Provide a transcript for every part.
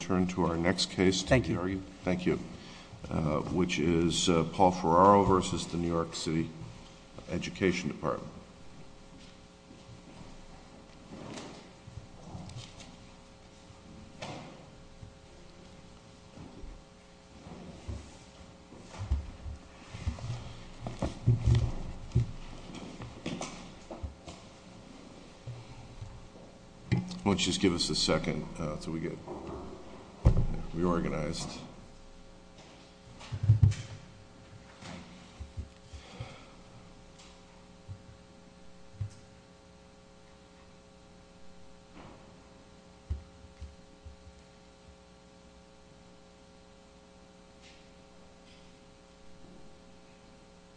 Turn to our next case. Thank you. Thank you. Which is Paul Ferraro versus the New York City Education Department. Why don't you just give us a second until we get reorganized.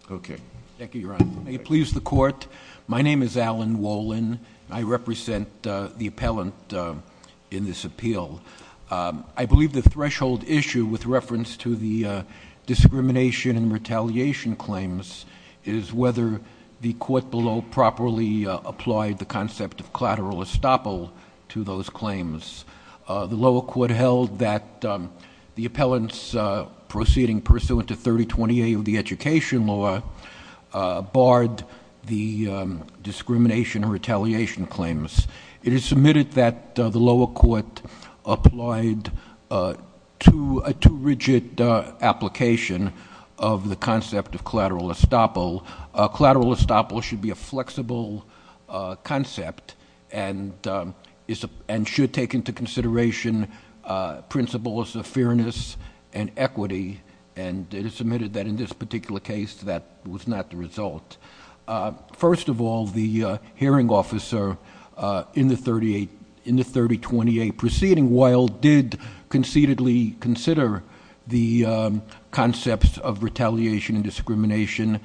Okay. Thank you, Your Honor. May it please the court. My name is Alan Wolin. I represent the appellant in this appeal. I believe the threshold issue with reference to the discrimination and retaliation claims is whether the court below properly applied the concept of collateral estoppel to those claims. The lower court held that the appellant's proceeding pursuant to 3028 of the education law barred the discrimination and retaliation claims. It is submitted that the lower court applied a too rigid application of the concept of collateral estoppel. Collateral estoppel should be a flexible concept and should take into consideration principles of fairness and equity. And it is submitted that in this particular case that was not the result. First of all, the hearing officer in the 3028 proceeding while did conceitedly consider the concepts of retaliation and discrimination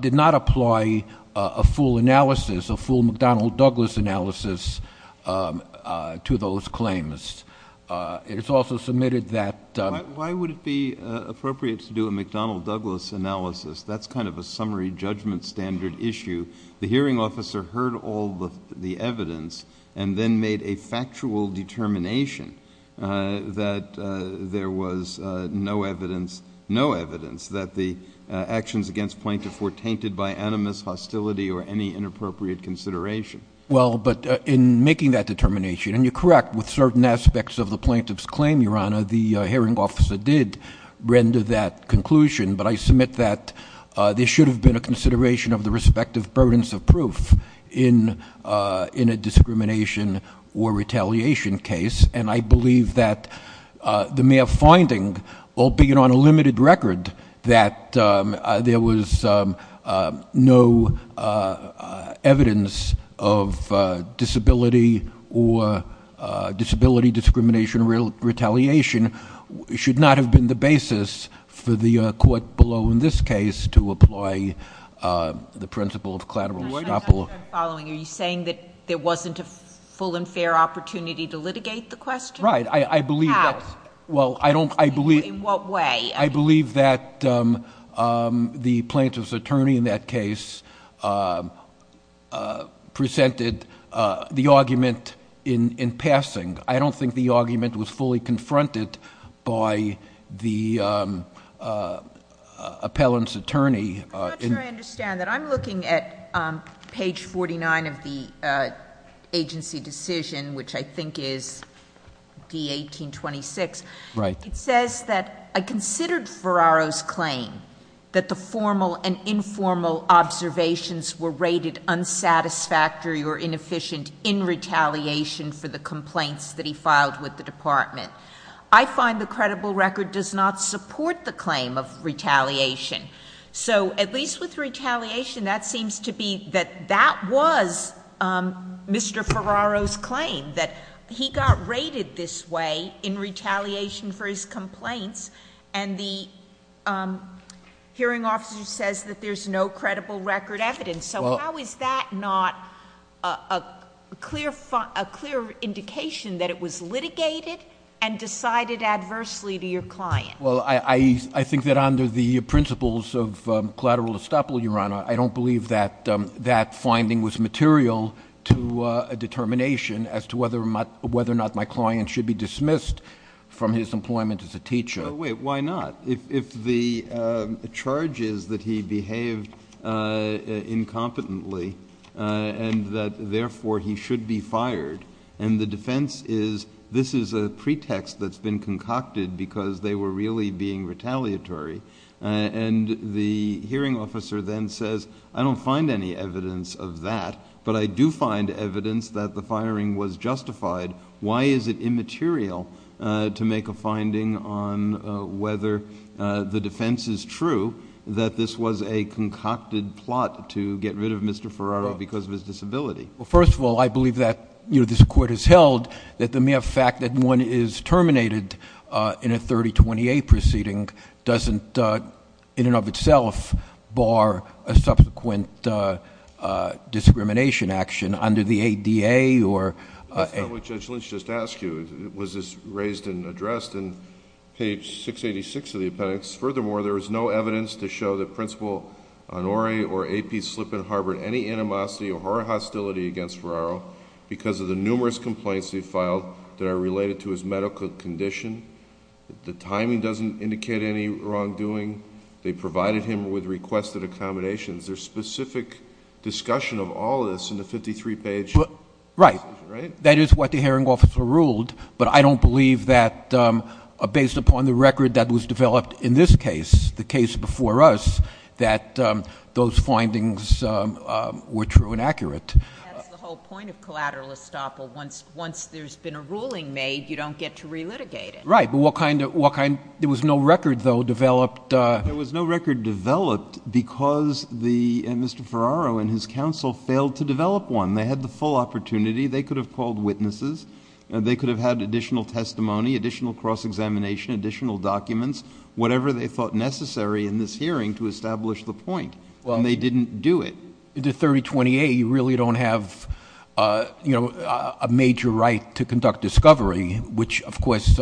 did not apply a full analysis, a full McDonnell-Douglas analysis to those claims. It is also submitted that- Why would it be appropriate to do a McDonnell-Douglas analysis? That's kind of a summary judgment standard issue. The hearing officer heard all the evidence and then made a factual determination that there was no evidence, no evidence that the actions against plaintiffs were tainted by animus, hostility, or any inappropriate consideration. Well, but in making that determination, and you're correct with certain aspects of the plaintiff's claim, Your Honor, the hearing officer did render that conclusion. But I submit that there should have been a consideration of the respective burdens of proof in a discrimination or retaliation case. And I believe that the mere finding, albeit on a limited record, that there was no evidence of disability or disability discrimination or retaliation should not have been the basis for the court below in this case to apply the principle of collateral stop law. I'm following. Are you saying that there wasn't a full and fair opportunity to litigate the question? Right. How? Well, I don't- In what way? I believe that the plaintiff's attorney in that case presented the argument in passing. I don't think the argument was fully confronted by the appellant's attorney. I'm not sure I understand that. I'm looking at page 49 of the agency decision, which I think is D-1826. Right. It says that I considered Ferraro's claim that the formal and informal observations were rated unsatisfactory or inefficient in retaliation for the complaints that he filed with the department. I find the credible record does not support the claim of retaliation. So at least with retaliation, that seems to be that that was Mr. Ferraro's claim, that he got rated this way in retaliation for his complaints, and the hearing officer says that there's no credible record evidence. So how is that not a clear indication that it was litigated and decided adversely to your client? Well, I think that under the principles of collateral estoppel, Your Honor, I don't believe that that finding was material to a determination as to whether or not my client should be dismissed from his employment as a teacher. Wait, why not? If the charge is that he behaved incompetently and that therefore he should be fired, and the defense is this is a pretext that's been concocted because they were really being retaliatory. And the hearing officer then says, I don't find any evidence of that, but I do find evidence that the firing was justified. Why is it immaterial to make a finding on whether the defense is true that this was a concocted plot to get rid of Mr. Ferraro because of his disability? Well, first of all, I believe that this court has held that the mere fact that one is terminated in a 3028 proceeding doesn't in and of itself bar a subsequent discrimination action under the ADA or— That's not what Judge Lynch just asked you. It was raised and addressed in page 686 of the appendix. Furthermore, there is no evidence to show that Principal Onore or AP Slippen harbored any animosity or hostility against Ferraro because of the numerous complaints he filed that are related to his medical condition. The timing doesn't indicate any wrongdoing. They provided him with requested accommodations. There's specific discussion of all this in the 53-page— Right. Right? That is what the hearing officer ruled, but I don't believe that based upon the record that was developed in this case, the case before us, that those findings were true and accurate. That's the whole point of collateral estoppel. Once there's been a ruling made, you don't get to relitigate it. Right. But what kind of—there was no record, though, developed— There was no record developed because Mr. Ferraro and his counsel failed to develop one. They had the full opportunity. They could have called witnesses. They could have had additional testimony, additional cross-examination, additional documents, whatever they thought necessary in this hearing to establish the point, and they didn't do it. The 3028, you really don't have a major right to conduct discovery, which, of course,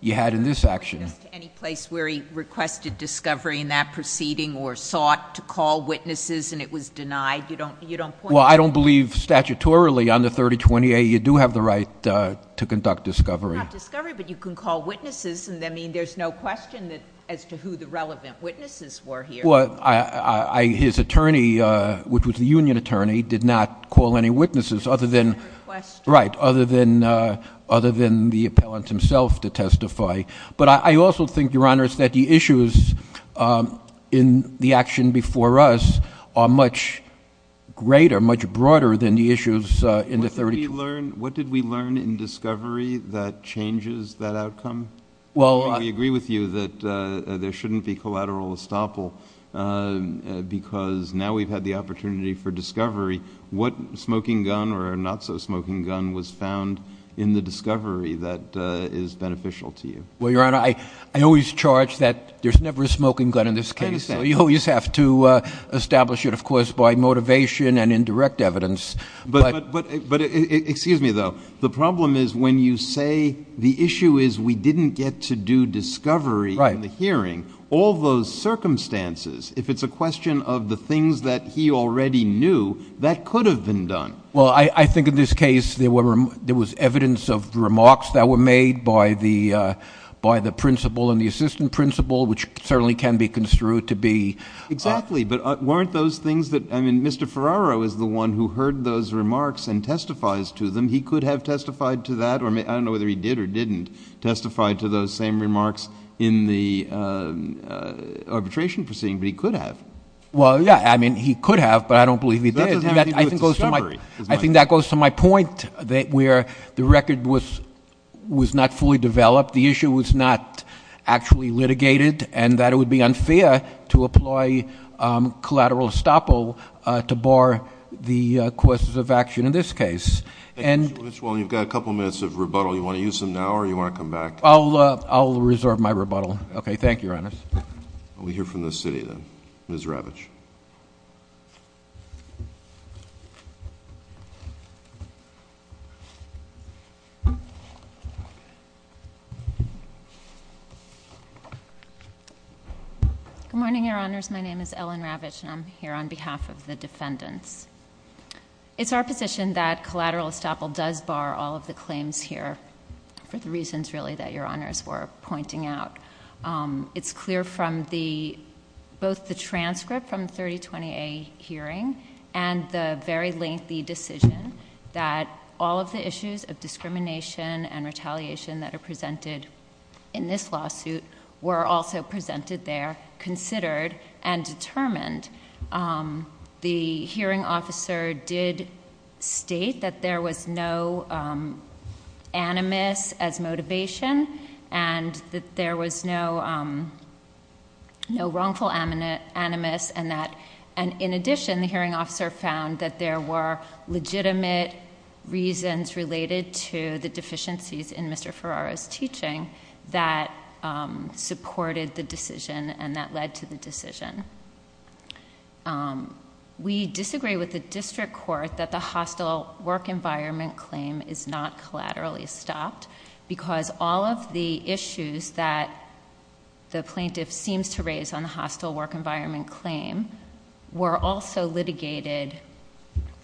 you had in this action. Any place where he requested discovery in that proceeding or sought to call witnesses and it was denied, you don't point to— Well, I don't believe statutorily on the 3028 you do have the right to conduct discovery. It's not discovery, but you can call witnesses. I mean, there's no question as to who the relevant witnesses were here. Well, his attorney, which was the union attorney, did not call any witnesses other than— He didn't request— But I also think, Your Honors, that the issues in the action before us are much greater, much broader than the issues in the 3028. What did we learn in discovery that changes that outcome? We agree with you that there shouldn't be collateral estoppel because now we've had the opportunity for discovery. What smoking gun or not-so-smoking gun was found in the discovery that is beneficial to you? Well, Your Honor, I always charge that there's never a smoking gun in this case, so you always have to establish it, of course, by motivation and indirect evidence. But excuse me, though. The problem is when you say the issue is we didn't get to do discovery in the hearing, all those circumstances, if it's a question of the things that he already knew, that could have been done. Well, I think in this case there was evidence of remarks that were made by the principal and the assistant principal, which certainly can be construed to be— Well, I don't know whether he heard those remarks and testifies to them. He could have testified to that, or I don't know whether he did or didn't testify to those same remarks in the arbitration proceeding, but he could have. Well, yeah. I mean, he could have, but I don't believe he did. That doesn't have anything to do with discovery. I think that goes to my point, that where the record was not fully developed, the issue was not actually litigated, and that it would be unfair to apply collateral estoppel to bar the courses of action in this case. Well, you've got a couple minutes of rebuttal. Do you want to use them now or do you want to come back? I'll reserve my rebuttal. Okay. Thank you, Your Honor. We'll hear from the city then. Ms. Ravitch. Good morning, Your Honors. My name is Ellen Ravitch, and I'm here on behalf of the defendants. It's our position that collateral estoppel does bar all of the claims here for the reasons, really, that Your Honors were pointing out. It's clear from both the transcript from the 3020A hearing and the very lengthy decision that all of the issues of discrimination and retaliation that are presented in this lawsuit were also presented there, considered, and determined. The hearing officer did state that there was no animus as motivation and that there was no wrongful animus, and in addition, the hearing officer found that there were legitimate reasons related to the deficiencies in Mr. Ferraro's teaching that supported the decision and that led to the decision. We disagree with the district court that the hostile work environment claim is not collaterally stopped because all of the issues that the plaintiff seems to raise on the hostile work environment claim were also litigated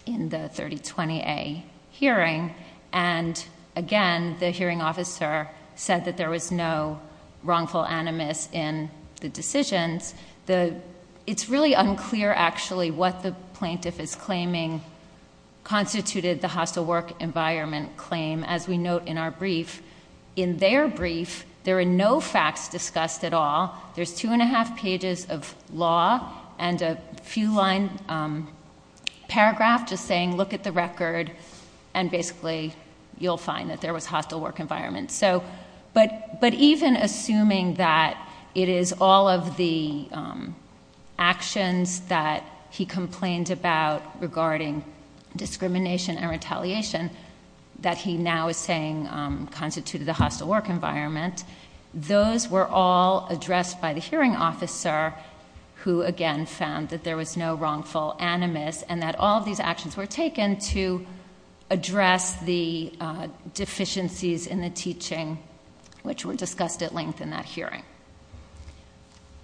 in the 3020A hearing, and again, the hearing officer said that there was no wrongful animus in the decisions. It's really unclear, actually, what the plaintiff is claiming constituted the hostile work environment claim, as we note in our brief. In their brief, there are no facts discussed at all. There's two and a half pages of law and a few-line paragraph just saying, look at the record, and basically, you'll find that there was hostile work environment. But even assuming that it is all of the actions that he complained about regarding discrimination and retaliation that he now is saying constituted the hostile work environment, those were all addressed by the hearing officer who, again, found that there was no wrongful animus and that all of these actions were taken to address the deficiencies in the teaching, which were discussed at length in that hearing.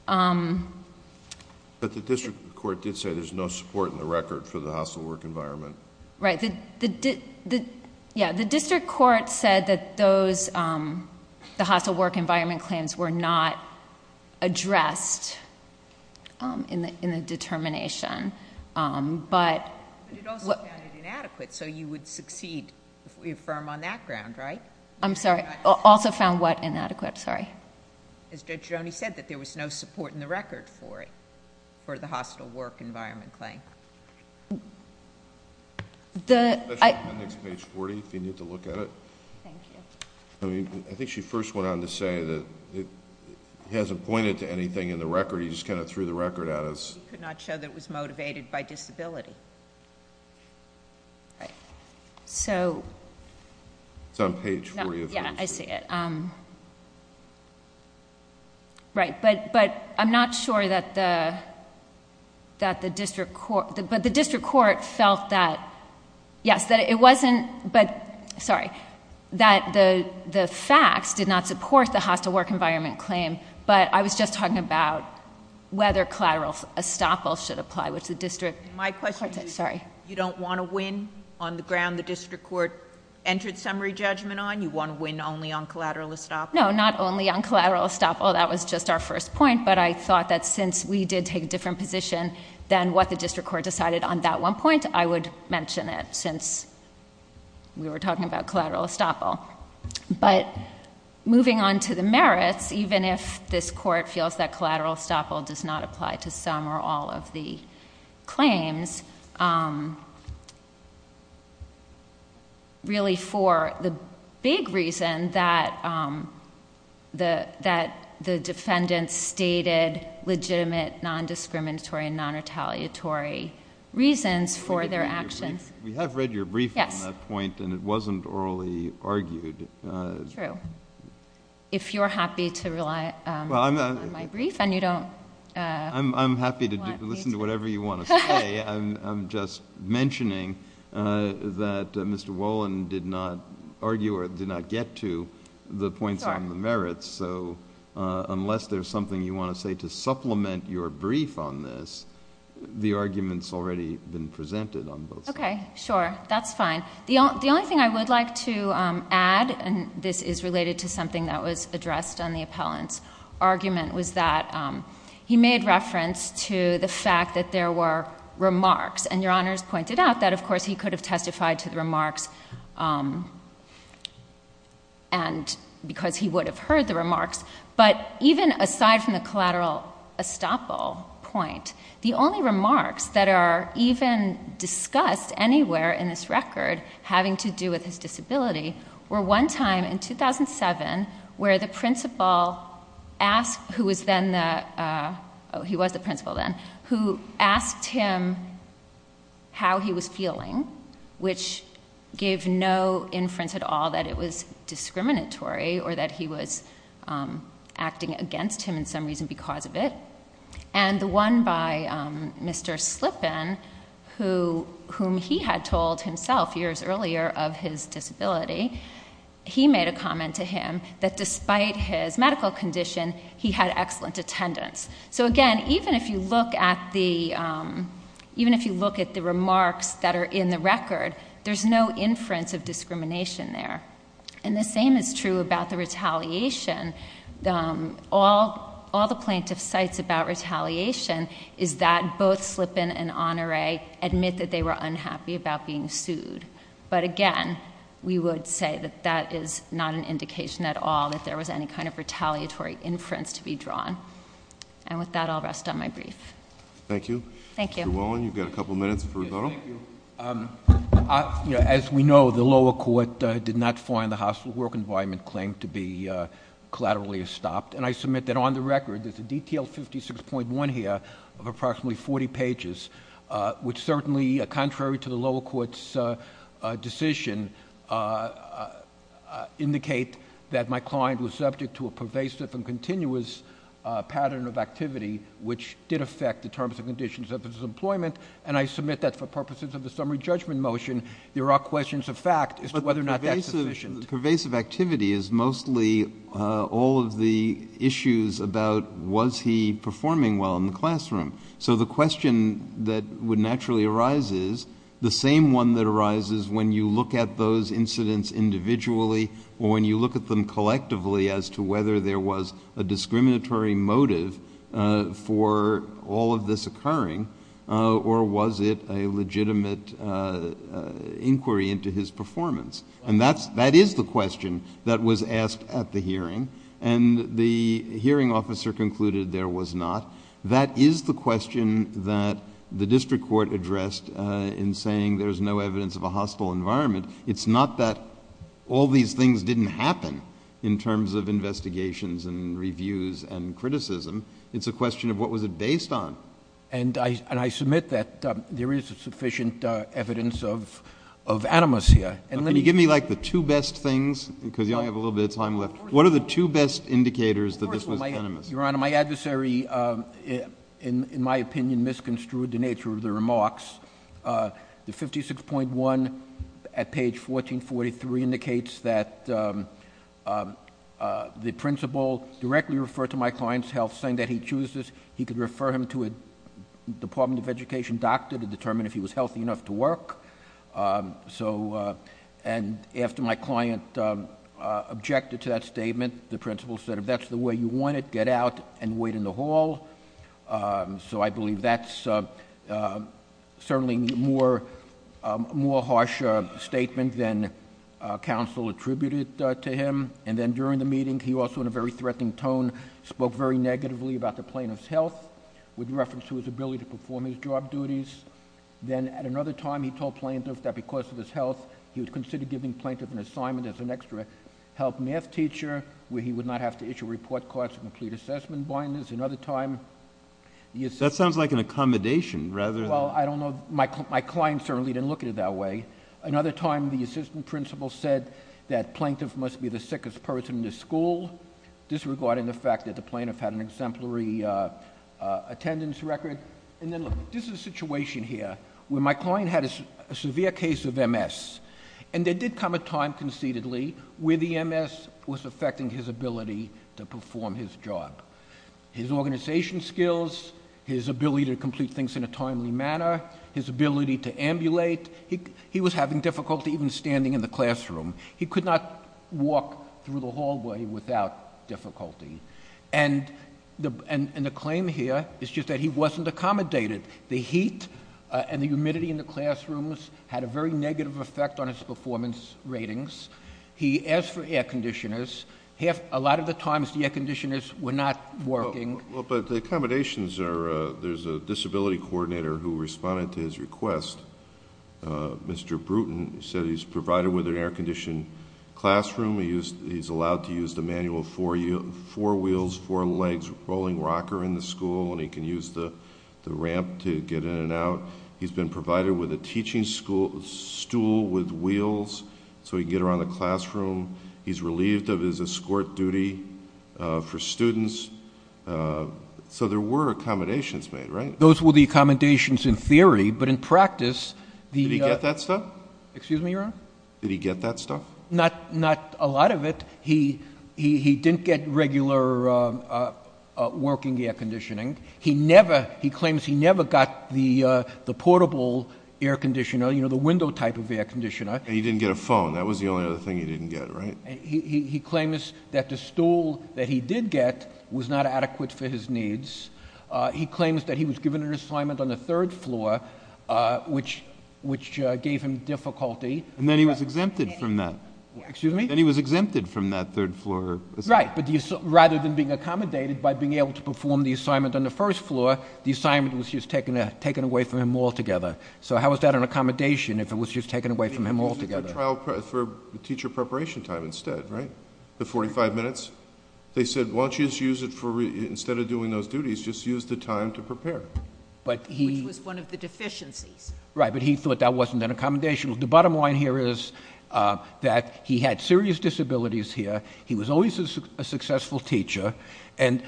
But the district court did say there's no support in the record for the hostile work environment. Right. Yeah. The district court said that the hostile work environment claims were not addressed in the determination. But it also found it inadequate, so you would succeed if we affirm on that ground, right? I'm sorry. Also found what? Inadequate. Sorry. As Judge Roney said, that there was no support in the record for it, for the hostile work environment claim. I think it's page 40 if you need to look at it. Thank you. I mean, I think she first went on to say that he hasn't pointed to anything in the record. He just kind of threw the record at us. He could not show that it was motivated by disability. Right. So. It's on page 40. Yeah, I see it. Right. But I'm not sure that the district court felt that, yes, that it wasn't... Sorry. That the facts did not support the hostile work environment claim. But I was just talking about whether collateral estoppel should apply, which the district... My question is... Sorry. You don't want to win on the ground the district court entered summary judgment on? You want to win only on collateral estoppel? No, not only on collateral estoppel. That was just our first point. But I thought that since we did take a different position than what the district court decided on that one point, I would mention it since we were talking about collateral estoppel. But moving on to the merits, even if this court feels that collateral estoppel does not apply to some or all of the claims, really for the big reason that the defendants stated legitimate non-discriminatory and non-retaliatory reasons for their actions... We have read your brief on that point. Yes. And it wasn't orally argued. True. If you're happy to rely on my brief and you don't... I'm happy to listen to whatever you want to say. I'm just mentioning that Mr. Wolin did not argue or did not get to the points on the merits. Sure. So, unless there's something you want to say to supplement your brief on this, the argument's already been presented on both sides. Okay. Sure. That's fine. The only thing I would like to add, and this is related to something that was addressed on the appellant's argument, was that he made reference to the fact that there were remarks. And Your Honors pointed out that, of course, he could have testified to the remarks because he would have heard the remarks. But even aside from the collateral estoppel point, the only remarks that are even discussed anywhere in this record having to do with his disability were one time in 2007 where the principal asked... who was then the... he was the principal then... who asked him how he was feeling, which gave no inference at all that it was discriminatory or that he was acting against him in some reason because of it. And the one by Mr. Slippen, whom he had told himself years earlier of his disability, he made a comment to him that despite his medical condition, he had excellent attendance. So, again, even if you look at the remarks that are in the record, there's no inference of discrimination there. And the same is true about the retaliation. All the plaintiff cites about retaliation is that both Slippen and Honore admit that they were unhappy about being sued. But, again, we would say that that is not an indication at all that there was any kind of retaliatory inference to be drawn. And with that, I'll rest on my brief. Thank you. Thank you. Mr. Wallin, you've got a couple minutes for a photo. Thank you. As we know, the lower court did not find the hospital work environment claim to be collaterally estopped. And I submit that on the record, there's a detailed 56.1 here of approximately 40 pages, which certainly, contrary to the lower court's decision, indicate that my client was subject to a pervasive and continuous pattern of activity, which did affect the terms and conditions of his employment. And I submit that for purposes of the summary judgment motion, there are questions of fact as to whether or not that's sufficient. The pervasive activity is mostly all of the issues about was he performing well in the classroom. So the question that would naturally arise is the same one that arises when you look at those incidents individually or when you look at them collectively as to whether there was a discriminatory motive for all of this occurring, or was it a legitimate inquiry into his performance. And that is the question that was asked at the hearing. And the hearing officer concluded there was not. That is the question that the district court addressed in saying there's no evidence of a hostile environment. It's not that all these things didn't happen in terms of investigations and reviews and criticism. It's a question of what was it based on. And I submit that there is sufficient evidence of animus here. Can you give me like the two best things? Because you only have a little bit of time left. What are the two best indicators that this was animus? Your Honor, my adversary, in my opinion, misconstrued the nature of the remarks. The 56.1 at page 1443 indicates that the principal directly referred to my client's health saying that he chooses. He could refer him to a Department of Education doctor to determine if he was healthy enough to work. And after my client objected to that statement, the principal said if that's the way you want it, get out and wait in the hall. So I believe that's certainly a more harsh statement than counsel attributed to him. And then during the meeting, he also in a very threatening tone spoke very negatively about the plaintiff's health with reference to his ability to perform his job duties. Then at another time, he told plaintiff that because of his health, he would consider giving plaintiff an assignment as an extra health math teacher, where he would not have to issue report cards or complete assessment binders. Another time, the assistant. That sounds like an accommodation rather than. Well, I don't know. My client certainly didn't look at it that way. Another time, the assistant principal said that plaintiff must be the sickest person in the school, disregarding the fact that the plaintiff had an exemplary attendance record. And then look, this is a situation here where my client had a severe case of MS. And there did come a time concededly where the MS was affecting his ability to perform his job. His organization skills, his ability to complete things in a timely manner, his ability to ambulate. He was having difficulty even standing in the classroom. He could not walk through the hallway without difficulty. And the claim here is just that he wasn't accommodated. The heat and the humidity in the classrooms had a very negative effect on his performance ratings. He asked for air conditioners. A lot of the times, the air conditioners were not working. But the accommodations are, there's a disability coordinator who responded to his request. Mr. Bruton said he's provided with an air conditioned classroom. He's allowed to use the manual four wheels, four legs, rolling rocker in the school. And he can use the ramp to get in and out. He's been provided with a teaching stool with wheels so he can get around the classroom. He's relieved of his escort duty for students. So there were accommodations made, right? Those were the accommodations in theory. But in practice, the- Did he get that stuff? Excuse me, Your Honor? Did he get that stuff? Not a lot of it. He didn't get regular working air conditioning. He claims he never got the portable air conditioner, you know, the window type of air conditioner. And he didn't get a phone. That was the only other thing he didn't get, right? He claims that the stool that he did get was not adequate for his needs. He claims that he was given an assignment on the third floor, which gave him difficulty. And then he was exempted from that. Excuse me? Then he was exempted from that third floor assignment. Right. But rather than being accommodated by being able to perform the assignment on the first floor, the assignment was just taken away from him altogether. So how was that an accommodation if it was just taken away from him altogether? They used it for teacher preparation time instead, right? The 45 minutes. They said, why don't you just use it for, instead of doing those duties, just use the time to prepare. Which was one of the deficiencies. Right. But he thought that wasn't an accommodation. The bottom line here is that he had serious disabilities here. He was always a successful teacher. And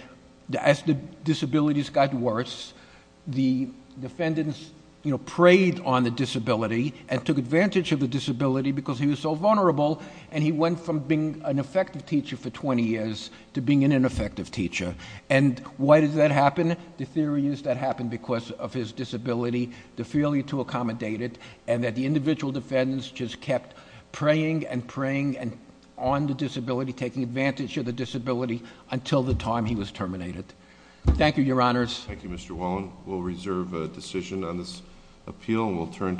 as the disabilities got worse, the defendants preyed on the disability and took advantage of the disability because he was so vulnerable. And he went from being an effective teacher for 20 years to being an ineffective teacher. And why does that happen? The theory is that happened because of his disability, the failure to accommodate it, and that the individual defendants just kept preying and preying on the disability, taking advantage of the disability until the time he was terminated. Thank you, Your Honors. Thank you, Mr. Wallen. We'll reserve a decision on this appeal, and we'll turn to the hearing.